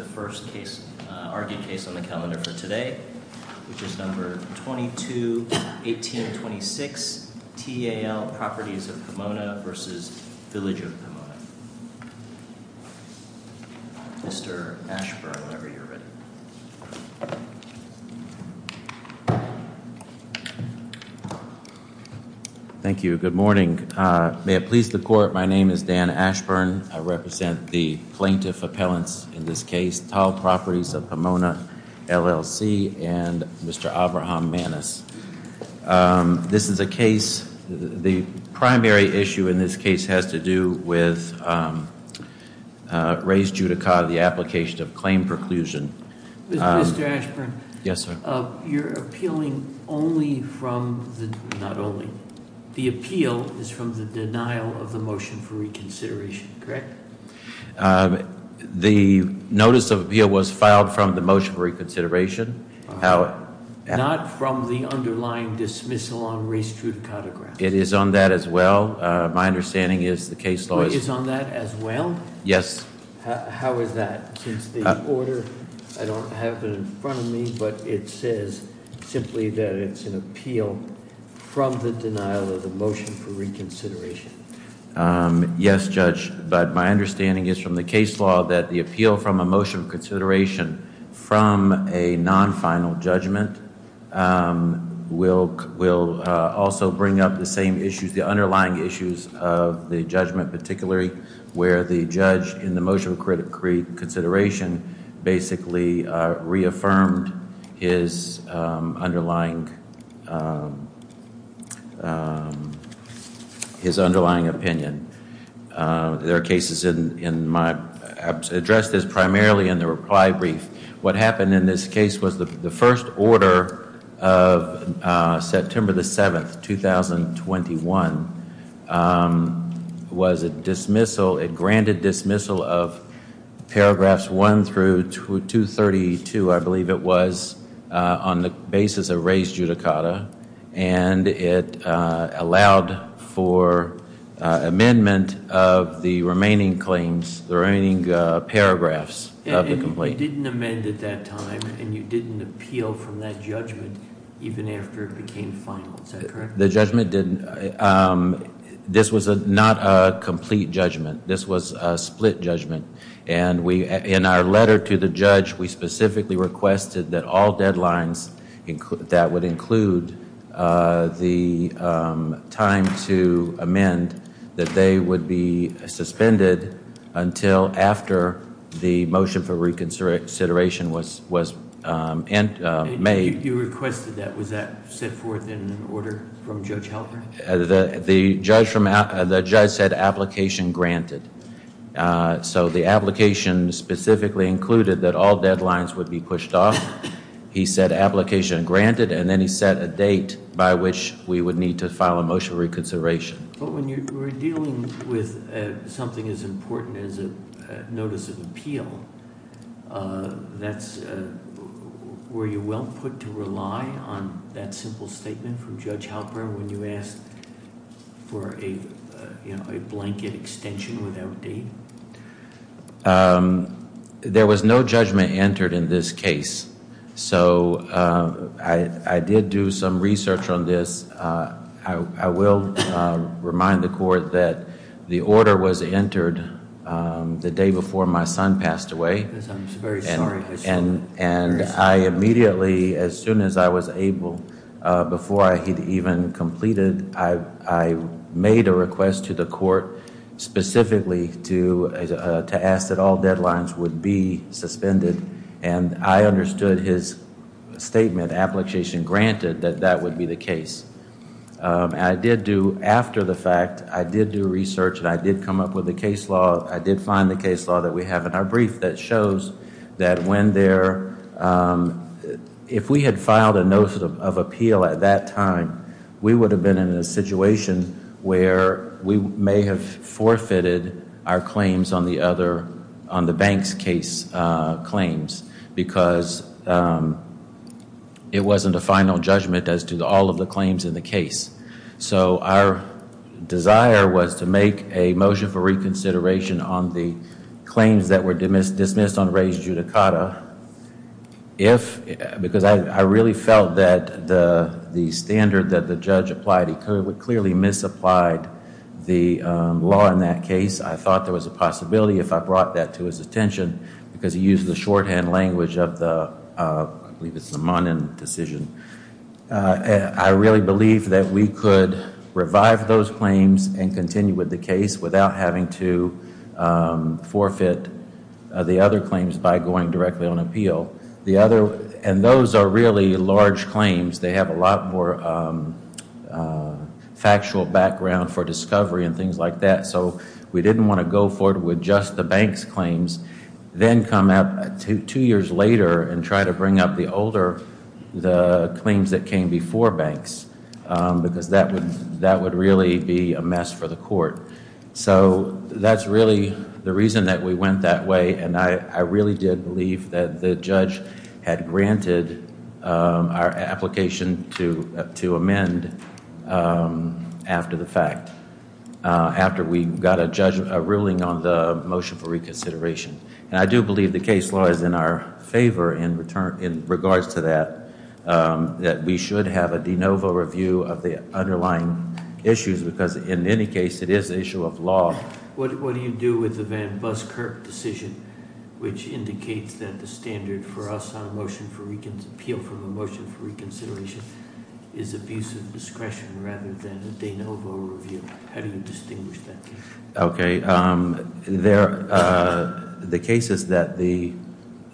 The first case argued case on the calendar for today, which is number 22-18-26 TAL Properties of Pomona v. Village of Pomona Mr. Ashburn, whenever you're ready Thank you. Good morning. May it please the court, my name is Dan Ashburn. I represent the plaintiff appellants in this case, TAL Properties of Pomona, LLC, and Mr. Abraham Maness This is a case, the primary issue in this case has to do with Rays Judicata, the application of claim preclusion Mr. Ashburn, you're appealing only from, not only, the appeal is from the denial of the motion for reconsideration, correct? The notice of appeal was filed from the motion for reconsideration Not from the underlying dismissal on Rays Judicata grounds It is on that as well. My understanding is the case law is Is on that as well? Yes How is that? Since the order, I don't have it in front of me, but it says simply that it's an appeal from the denial of the motion for reconsideration Yes, Judge, but my understanding is from the case law that the appeal from a motion of consideration from a non-final judgment Will also bring up the same issues, the underlying issues of the judgment, particularly where the judge in the motion for reconsideration Basically reaffirmed his underlying opinion There are cases in my, addressed this primarily in the reply brief What happened in this case was the first order of September the 7th, 2021 Was a dismissal, a granted dismissal of paragraphs 1 through 232, I believe it was On the basis of Rays Judicata And it allowed for amendment of the remaining claims, the remaining paragraphs And you didn't amend at that time and you didn't appeal from that judgment even after it became final, is that correct? The judgment didn't, this was not a complete judgment, this was a split judgment And we, in our letter to the judge, we specifically requested that all deadlines that would include The time to amend, that they would be suspended until after the motion for reconsideration was made You requested that, was that set forth in an order from Judge Halpern? The judge said application granted So the application specifically included that all deadlines would be pushed off He said application granted and then he set a date by which we would need to file a motion of reconsideration But when you were dealing with something as important as a notice of appeal That's, were you well put to rely on that simple statement from Judge Halpern when you asked There was no judgment entered in this case So I did do some research on this I will remind the court that the order was entered the day before my son passed away And I immediately, as soon as I was able, before I had even completed I made a request to the court specifically to ask that all deadlines would be suspended And I understood his statement, application granted, that that would be the case I did do, after the fact, I did do research and I did come up with a case law I did find the case law that we have in our brief that shows that when there If we had filed a notice of appeal at that time We would have been in a situation where we may have forfeited our claims on the other On the Banks case claims because It wasn't a final judgment as to all of the claims in the case So our desire was to make a motion for reconsideration on the Claims that were dismissed on Ray's judicata If, because I really felt that the standard that the judge applied He clearly misapplied the law in that case I thought there was a possibility if I brought that to his attention Because he used the shorthand language of the, I believe it's the Monin decision I really believed that we could revive those claims and continue with the case Without having to forfeit the other claims by going directly on appeal The other, and those are really large claims They have a lot more factual background for discovery and things like that So we didn't want to go forward with just the Banks claims Then come out two years later and try to bring up the older The claims that came before Banks Because that would really be a mess for the court So that's really the reason that we went that way And I really did believe that the judge had granted Our application to amend After the fact After we got a ruling on the motion for reconsideration And I do believe the case law is in our favor in regards to that That we should have a de novo review of the underlying issues Because in any case it is an issue of law What do you do with the Van Buskirk decision Which indicates that the standard for us on a motion for reconsideration Is abuse of discretion rather than a de novo review How do you distinguish that case? Okay, the cases that the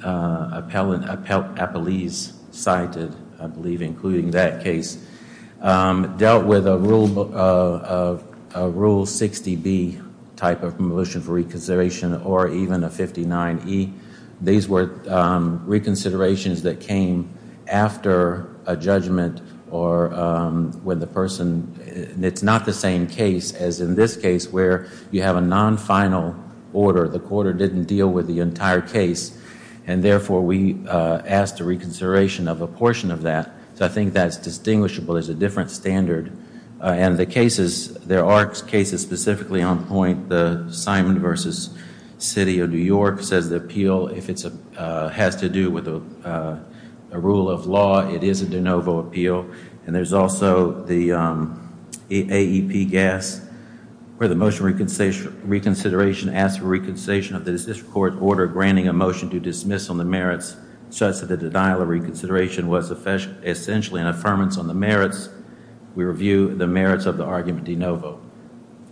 appellees cited I believe including that case Dealt with a Rule 60B type of motion for reconsideration Or even a 59E These were reconsiderations that came after a judgment Or when the person It's not the same case as in this case Where you have a non-final order The court didn't deal with the entire case And therefore we asked a reconsideration of a portion of that So I think that's distinguishable It's a different standard And the cases There are cases specifically on point The Simon v. City of New York Says the appeal has to do with a rule of law It is a de novo appeal And there's also the AEP-GAS Where the motion for reconsideration Asks for reconsideration of the district court order Granting a motion to dismiss on the merits Such that the denial of reconsideration Was essentially an affirmance on the merits We review the merits of the argument de novo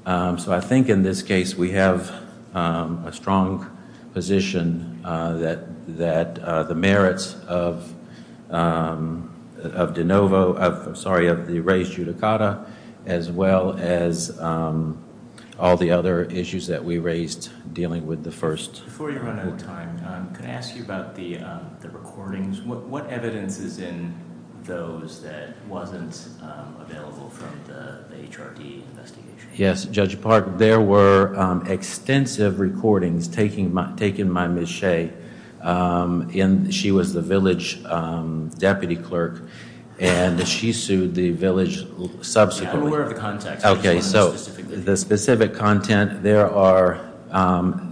So I think in this case We have a strong position That the merits of de novo Sorry, of the raised judicata As well as all the other issues that we raised Dealing with the first Before you run out of time Can I ask you about the recordings What evidence is in those That wasn't available from the HRD investigation? Yes, Judge Park There were extensive recordings Taken by Ms. Shea And she was the village deputy clerk And she sued the village subsequently I'm aware of the context Okay, so the specific content There are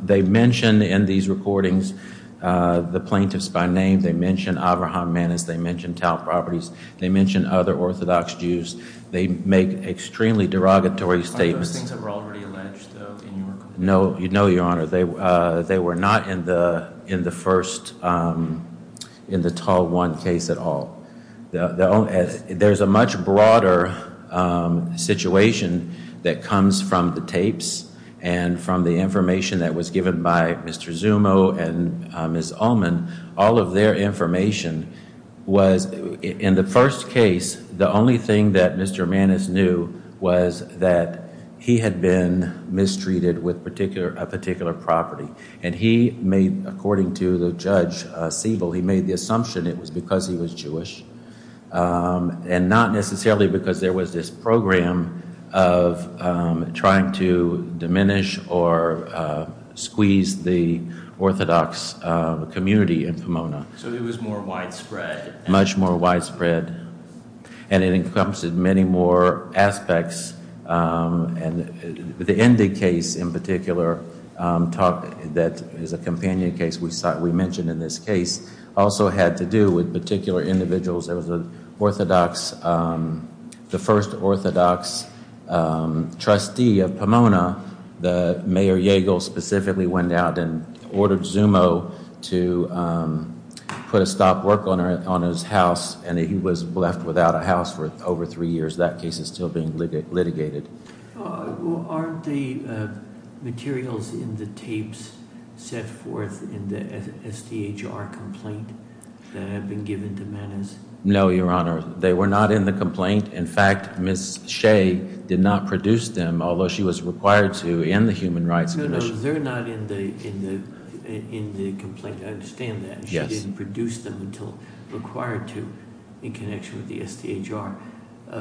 They mention in these recordings The plaintiffs by name They mention Avraham Mannes They mention Tal Properties They mention other Orthodox Jews Are those things that were already alleged In your complaint? No, no, Your Honor They were not in the first In the Tal One case at all There's a much broader situation That comes from the tapes And from the information That was given by Mr. Zumo And Ms. Ullman All of their information Was in the first case The only thing that Mr. Mannes knew Was that he had been mistreated With a particular property And he made, according to Judge Siebel He made the assumption It was because he was Jewish And not necessarily Because there was this program Of trying to diminish Or squeeze the Orthodox community In Pomona So it was more widespread Much more widespread And it encompassed many more aspects And the Endig case in particular That is a companion case We mentioned in this case Also had to do with particular individuals There was an Orthodox The first Orthodox trustee of Pomona Mayor Yagle specifically went out And ordered Zumo to put a stop work On his house And he was left without a house For over three years That case is still being litigated Aren't the materials in the tapes Set forth in the SDHR complaint That have been given to Mannes? No, Your Honor They were not in the complaint In fact, Ms. Shea Did not produce them Although she was required to In the Human Rights Commission No, no, they're not in the complaint I understand that She didn't produce them Until required to In connection with the SDHR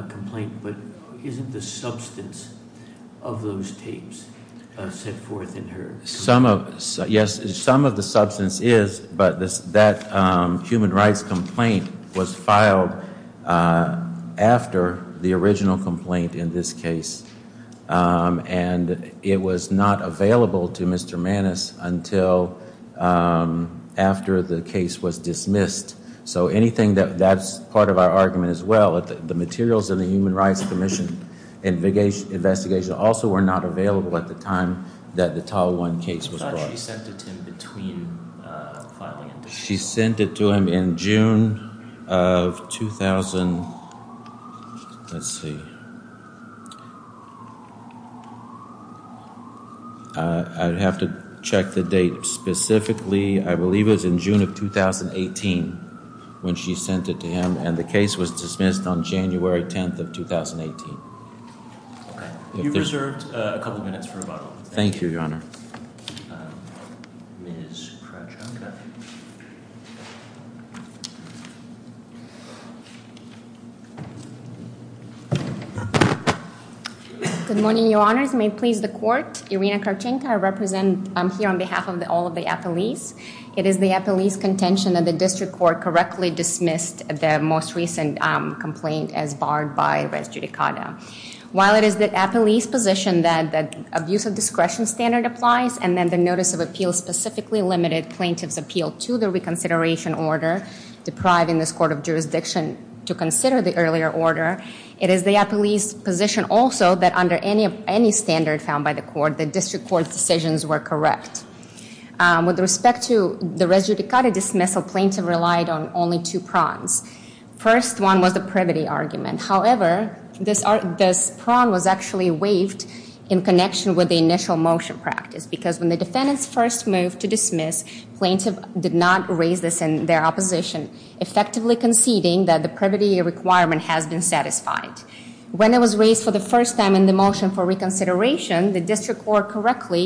complaint But isn't the substance of those tapes Set forth in her complaint? Yes, some of the substance is But that Human Rights complaint Was filed after the original complaint In this case And it was not available to Mr. Mannes Until after the case was dismissed So that's part of our argument as well The materials in the Human Rights Commission Investigation also were not available At the time that the Tahoe 1 case was brought She sent it to him between filing and dismissal She sent it to him in June of 2000 Let's see I'd have to check the date specifically I believe it was in June of 2018 When she sent it to him And the case was dismissed on January 10th of 2018 You've reserved a couple of minutes for rebuttal Thank you, Your Honor Good morning, Your Honors May it please the Court Irina Karchenko, I represent I'm here on behalf of all of the appellees It is the appellee's contention That the district court correctly dismissed The most recent complaint As barred by res judicata While it is the appellee's position That the abuse of discretion standard applies And then the notice of appeal Specifically limited plaintiff's appeal To the reconsideration order Depriving this court of jurisdiction To consider the earlier order It is the appellee's position also That under any standard found by the court The district court's decisions were correct With respect to the res judicata dismissal Plaintiff relied on only two prongs First one was the privity argument However, this prong was actually waived In connection with the initial motion practice Because when the defendants first moved to dismiss Plaintiff did not raise this in their opposition Effectively conceding that the privity requirement Has been satisfied When it was raised for the first time In the motion for reconsideration The district court correctly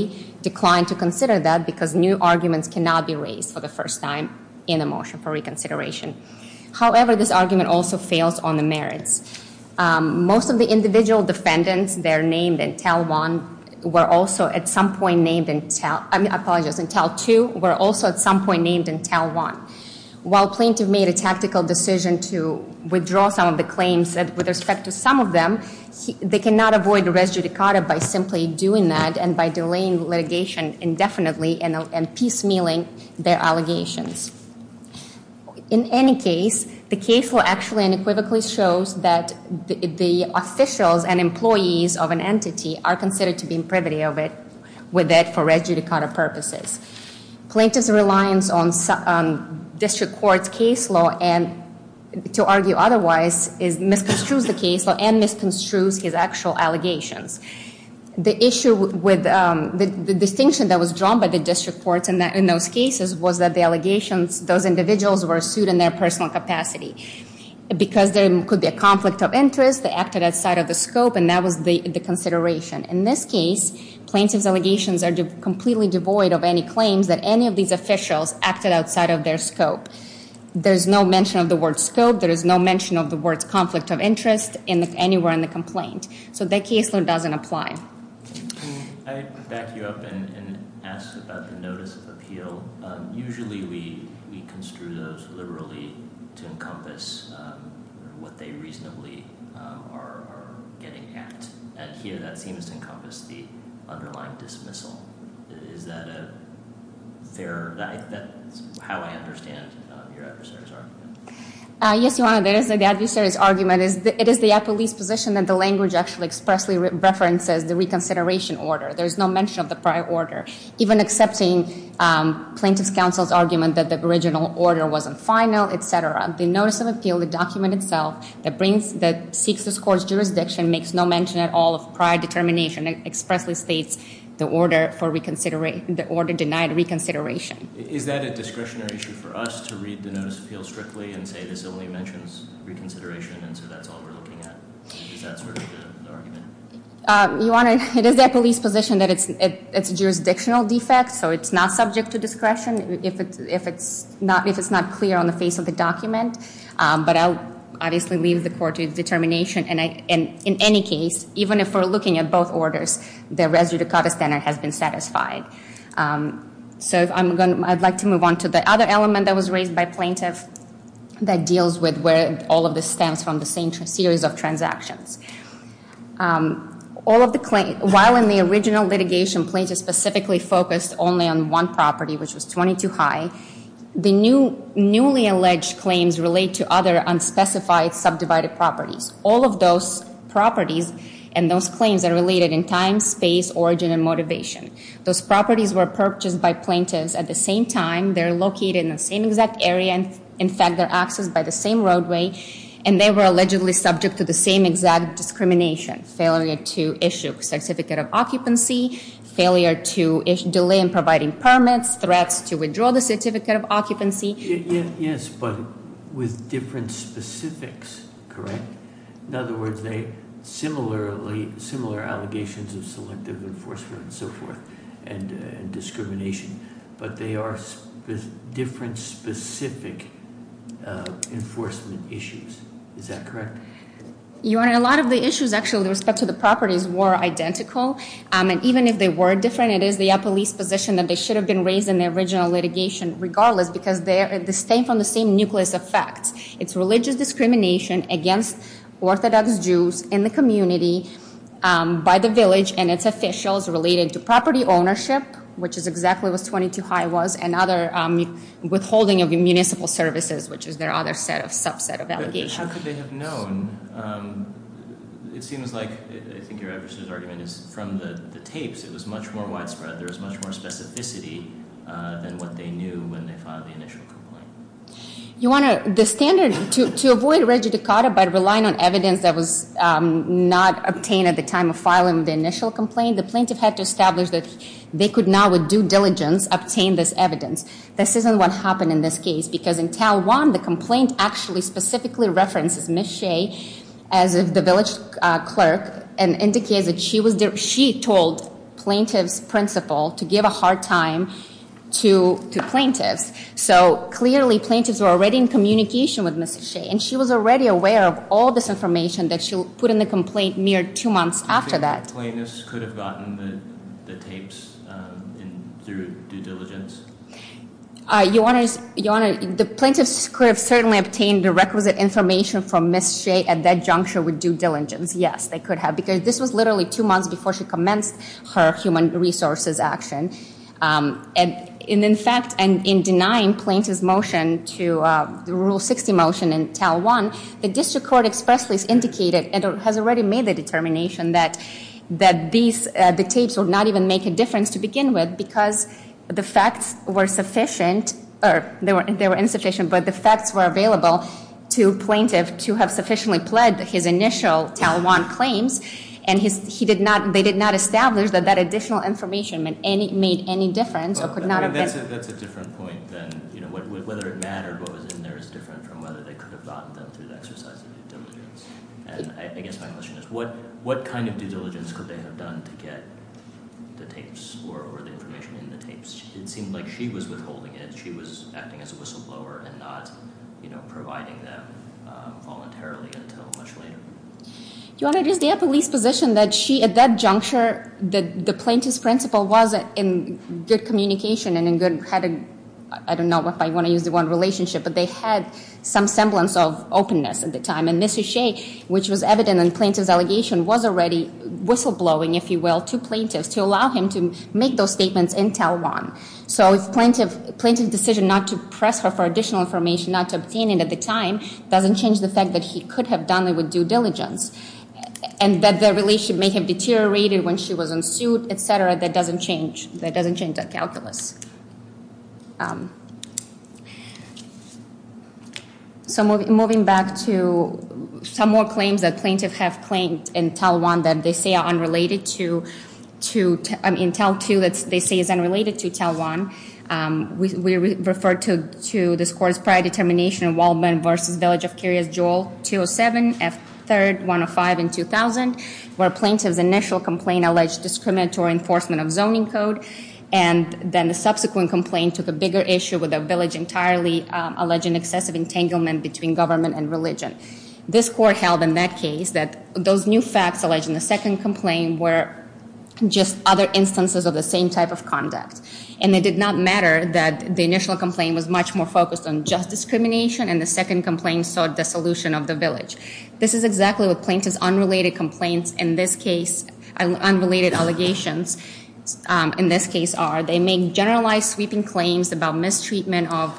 declined to consider that Because new arguments cannot be raised For the first time in a motion for reconsideration However, this argument also fails on the merits Most of the individual defendants That are named in TEL 1 Were also at some point named in TEL I apologize, in TEL 2 Were also at some point named in TEL 1 While plaintiff made a tactical decision To withdraw some of the claims With respect to some of them They cannot avoid res judicata By simply doing that And by delaying litigation indefinitely And piecemealing their allegations In any case The case law actually unequivocally shows That the officials and employees of an entity Are considered to be in privity of it With it for res judicata purposes Plaintiff's reliance on district court's case law And to argue otherwise Misconstrues the case law And misconstrues his actual allegations The distinction that was drawn By the district courts in those cases Was that those individuals Were sued in their personal capacity Because there could be a conflict of interest They acted outside of the scope And that was the consideration In this case, plaintiff's allegations Are completely devoid of any claims That any of these officials Acted outside of their scope There is no mention of the word scope There is no mention of the word conflict of interest Anywhere in the complaint So that case law doesn't apply I back you up and ask about the notice of appeal Usually we construe those liberally To encompass what they reasonably are getting at And here that seems to encompass The underlying dismissal Is that a fair... Yes, Your Honor, the adversary's argument It is the appellee's position That the language actually expressly References the reconsideration order There is no mention of the prior order Even accepting plaintiff's counsel's argument That the original order wasn't final, etc. The notice of appeal, the document itself That seeks this court's jurisdiction Makes no mention at all of prior determination It expressly states the order denied reconsideration Is that a discretionary issue for us To read the notice of appeal strictly And say this only mentions reconsideration So that's all we're looking at Is that sort of the argument? Your Honor, it is the appellee's position That it's a jurisdictional defect So it's not subject to discretion If it's not clear on the face of the document But I'll obviously leave the court to its determination And in any case, even if we're looking at both orders The residue to cover standard has been satisfied So I'd like to move on to the other element That was raised by plaintiff That deals with where all of this stems from The same series of transactions While in the original litigation Plaintiff specifically focused only on one property Which was 22 High The newly alleged claims relate to other Unspecified subdivided properties All of those properties and those claims Are related in time, space, origin, and motivation Those properties were purchased by plaintiffs At the same time, they're located in the same exact area And in fact, they're accessed by the same roadway And they were allegedly subject to the same exact discrimination Failure to issue a certificate of occupancy Failure to delay in providing permits Threats to withdraw the certificate of occupancy Yes, but with different specifics, correct? In other words, they're similar allegations Of selective enforcement and so forth And discrimination But they are different specific enforcement issues Is that correct? Your Honor, a lot of the issues actually With respect to the properties were identical And even if they were different It is the police position that they should have been raised In the original litigation regardless Because they stem from the same nucleus of facts It's religious discrimination against Orthodox Jews In the community, by the village And its officials related to property ownership Which is exactly what 22 High was And other withholding of municipal services Which is their other subset of allegations But how could they have known? It seems like, I think your adversary's argument is From the tapes, it was much more widespread There was much more specificity than what they knew When they filed the initial complaint Your Honor, the standard to avoid regidicata By relying on evidence that was not obtained At the time of filing the initial complaint The plaintiff had to establish that They could now with due diligence Obtain this evidence This isn't what happened in this case Because in Tal 1, the complaint actually Specifically references Ms. Shea As the village clerk And indicates that she told plaintiff's principal To give a hard time to plaintiffs So clearly plaintiffs were already In communication with Ms. Shea And she was already aware of all this information That she put in the complaint Mere two months after that The plaintiffs could have gotten the tapes Through due diligence? Your Honor, the plaintiffs could have Certainly obtained the requisite information From Ms. Shea at that juncture With due diligence, yes They could have Because this was literally two months Before she commenced her human resources action And in fact, in denying plaintiff's motion To the Rule 60 motion in Tal 1 The district court expressly has indicated And has already made the determination That the tapes would not even make a difference To begin with Because the facts were sufficient Or they were insufficient But the facts were available to plaintiff To have sufficiently pled His initial Tal 1 claims And they did not establish That that additional information Made any difference or could not have been That's a different point Whether it mattered What was in there is different From whether they could have gotten them Through the exercise of due diligence And I guess my question is What kind of due diligence could they have done To get the tapes Or the information in the tapes? It seemed like she was withholding it She was acting as a whistleblower And not providing them voluntarily Until much later Your Honor, it is their police position That she, at that juncture The plaintiff's principle was In good communication And in good, I don't know If I want to use the word relationship But they had some semblance of openness At the time And Ms. O'Shea, which was evident In the plaintiff's allegation Was already whistleblowing, if you will To plaintiffs To allow him to make those statements in Tal 1 So if the plaintiff's decision Not to press her for additional information Not to obtain it at the time Doesn't change the fact That he could have done it with due diligence And that the relationship may have deteriorated When she was in suit, etc. That doesn't change That doesn't change that calculus Um So moving back to Some more claims That plaintiffs have claimed in Tal 1 That they say are unrelated to To, I mean, Tal 2 That they say is unrelated to Tal 1 Um, we refer to This court's prior determination Waldman v. Village of Curious Jewel 207 F. 3rd, 105 and 2000 Where plaintiff's initial complaint Alleged discriminatory enforcement of zoning code And then the subsequent complaint Took a bigger issue With the village entirely Alleging excessive entanglement Between government and religion This court held in that case That those new facts alleged In the second complaint Were just other instances Of the same type of conduct And it did not matter That the initial complaint Was much more focused On just discrimination And the second complaint Saw dissolution of the village This is exactly What plaintiffs' unrelated complaints In this case Unrelated allegations Um, in this case are They make generalized sweeping claims About mistreatment of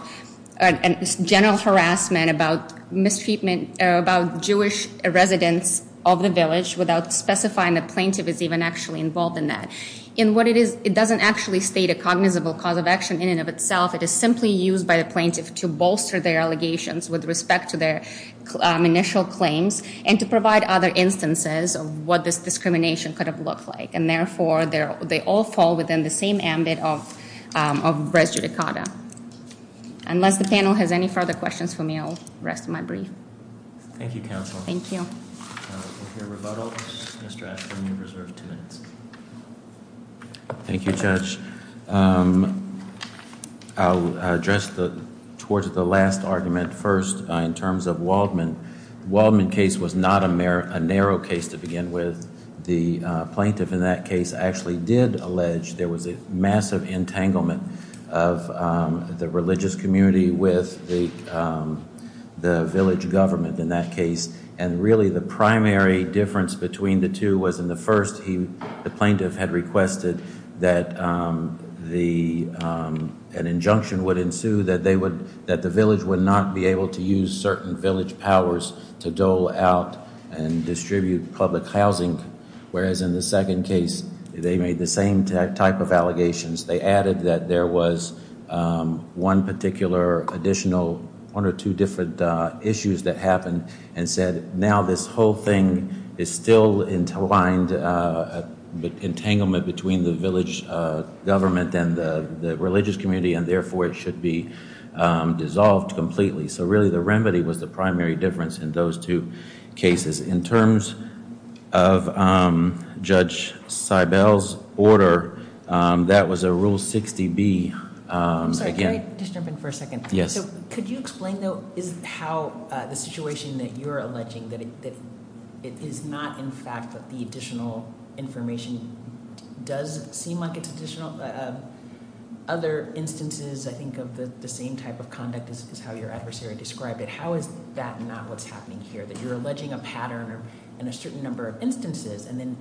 And general harassment About mistreatment About Jewish residents Of the village Without specifying the plaintiff Is even actually involved in that In what it is It doesn't actually state A cognizable cause of action In and of itself It is simply used By the plaintiff To bolster their allegations With respect to their Um, initial claims And to provide other instances Of what this discrimination Could have looked like And therefore They all fall within The same ambit of Um, of res judicata Unless the panel Has any further questions for me I'll rest my brief Thank you, counsel Thank you We'll hear rebuttal Mr. Ashford You're reserved two minutes Thank you, judge Um I'll address the Towards the last argument first In terms of Waldman The Waldman case Was not a narrow case To begin with The plaintiff In that case Actually did allege There was a Massive entanglement Of Um The religious community With the Um The village government In that case And really The primary difference Between the two Was in the first He The plaintiff Had requested That Um The Um An injunction would ensue That they would That the village Would not be able To use certain Village powers To dole out And distribute Public housing Whereas in the second case They made the same Type of allegations They added that There was Um One particular Additional One or two different Uh Issues that happened And said Now this whole thing Is still Entwined Uh Entanglement between The village Government And the Religious community And therefore it should be Um Dissolved completely So really the remedy Was the primary difference In those two Cases In terms Of um Judge Seibel's Order Um That was a rule 60B Um Again Can I just jump in for a second Yes So could you explain though Is how Uh The situation That you're alleging That it It is not in fact That the additional Information Does seem like it's additional Uh Other instances I think of the The same type of conduct Is how your adversary Described it How is that not What's happening here That you're alleging A pattern In a certain number Of instances And then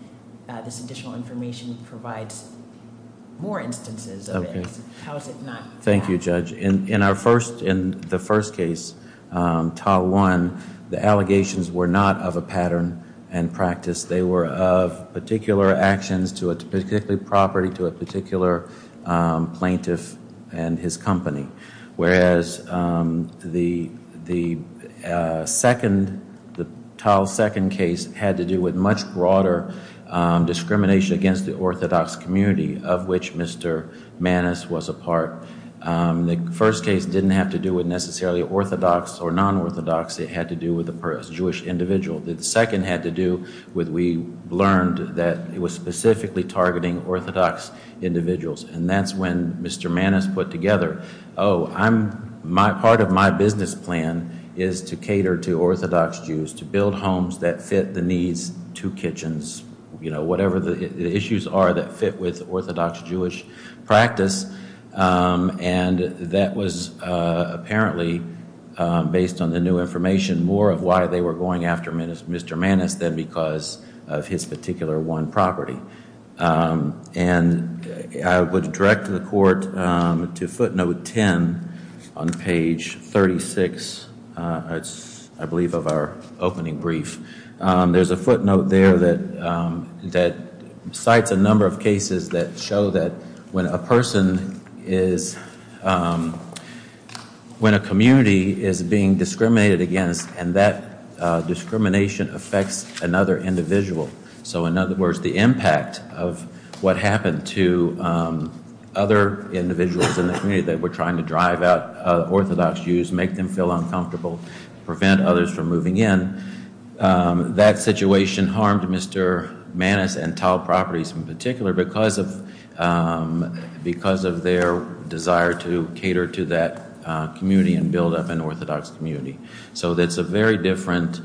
Uh This additional information Provides More instances Of it How is it not Thank you Judge In our first In the first case Um TA 1 The allegations Were not of a pattern And practice They were of Particular actions To a particular property To a particular Um Plaintiff And his company Whereas Um The The Uh Second The TA 2nd case Had to do with Much broader Um Discrimination Against the Orthodox community Of which Mr. Manis was a part Um The first case Didn't have to do with Necessarily orthodox Or non-orthodox It had to do with A Jewish individual The second had to do With we Learned that It was specifically Targeting orthodox Individuals And that's when Mr. Manis put together Oh I'm My part of my Business plan Is to cater to Orthodox Jews To build homes That fit the needs To kitchens You know Whatever the Issues are that Fit with orthodox Jewish practice Um And That was Uh Apparently Um Based on the new Information More of why they Were going after Mr. Manis than because Of his particular One property Um And I would direct The court Um To footnote 10 On page 36 Uh It's I believe of our Opening brief Um There's a footnote There that Um That Cites a number Of cases That show That when A person Is Um When a community Is being Discriminated against And that Uh Discrimination Affects another Individual So in other words The impact Of what Happened to Um Other individuals In the community That were trying to Drive out Orthodox Jews Make them feel Uncomfortable Prevent others From moving in Um That situation Harmed Mr. Manis and Tal Properties In particular Because of Um Because of their Desire to Cater to that Uh Community And build up An Orthodox community So that's a very Different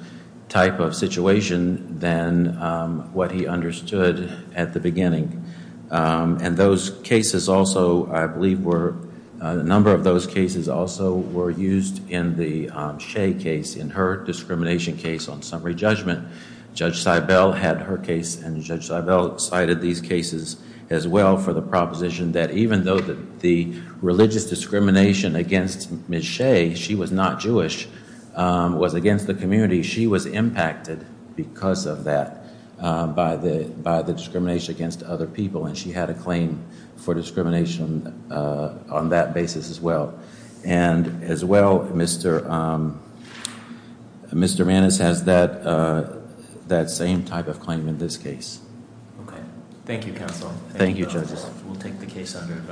Type of Situation Than Um What he understood At the beginning Um And those Cases also I believe Were A number Of those Cases also Were used In the Um Shea case In her Discrimination Case on Summary judgment Judge Cybell Had her Case and Judge Cybell Cited these Cases as well For the proposition That even though The religious Discrimination Against Ms. Shea She was not Jewish Um Was against The community She was Impacted Because of That Um By the Discrimination Against other People And she Had a Claim For discrimination On that Basis as Well And as Well Mr. Um Mr. Maness has That Same type Of claim In this Case Okay Thank you Counsel Thank you Judges We'll take the Case under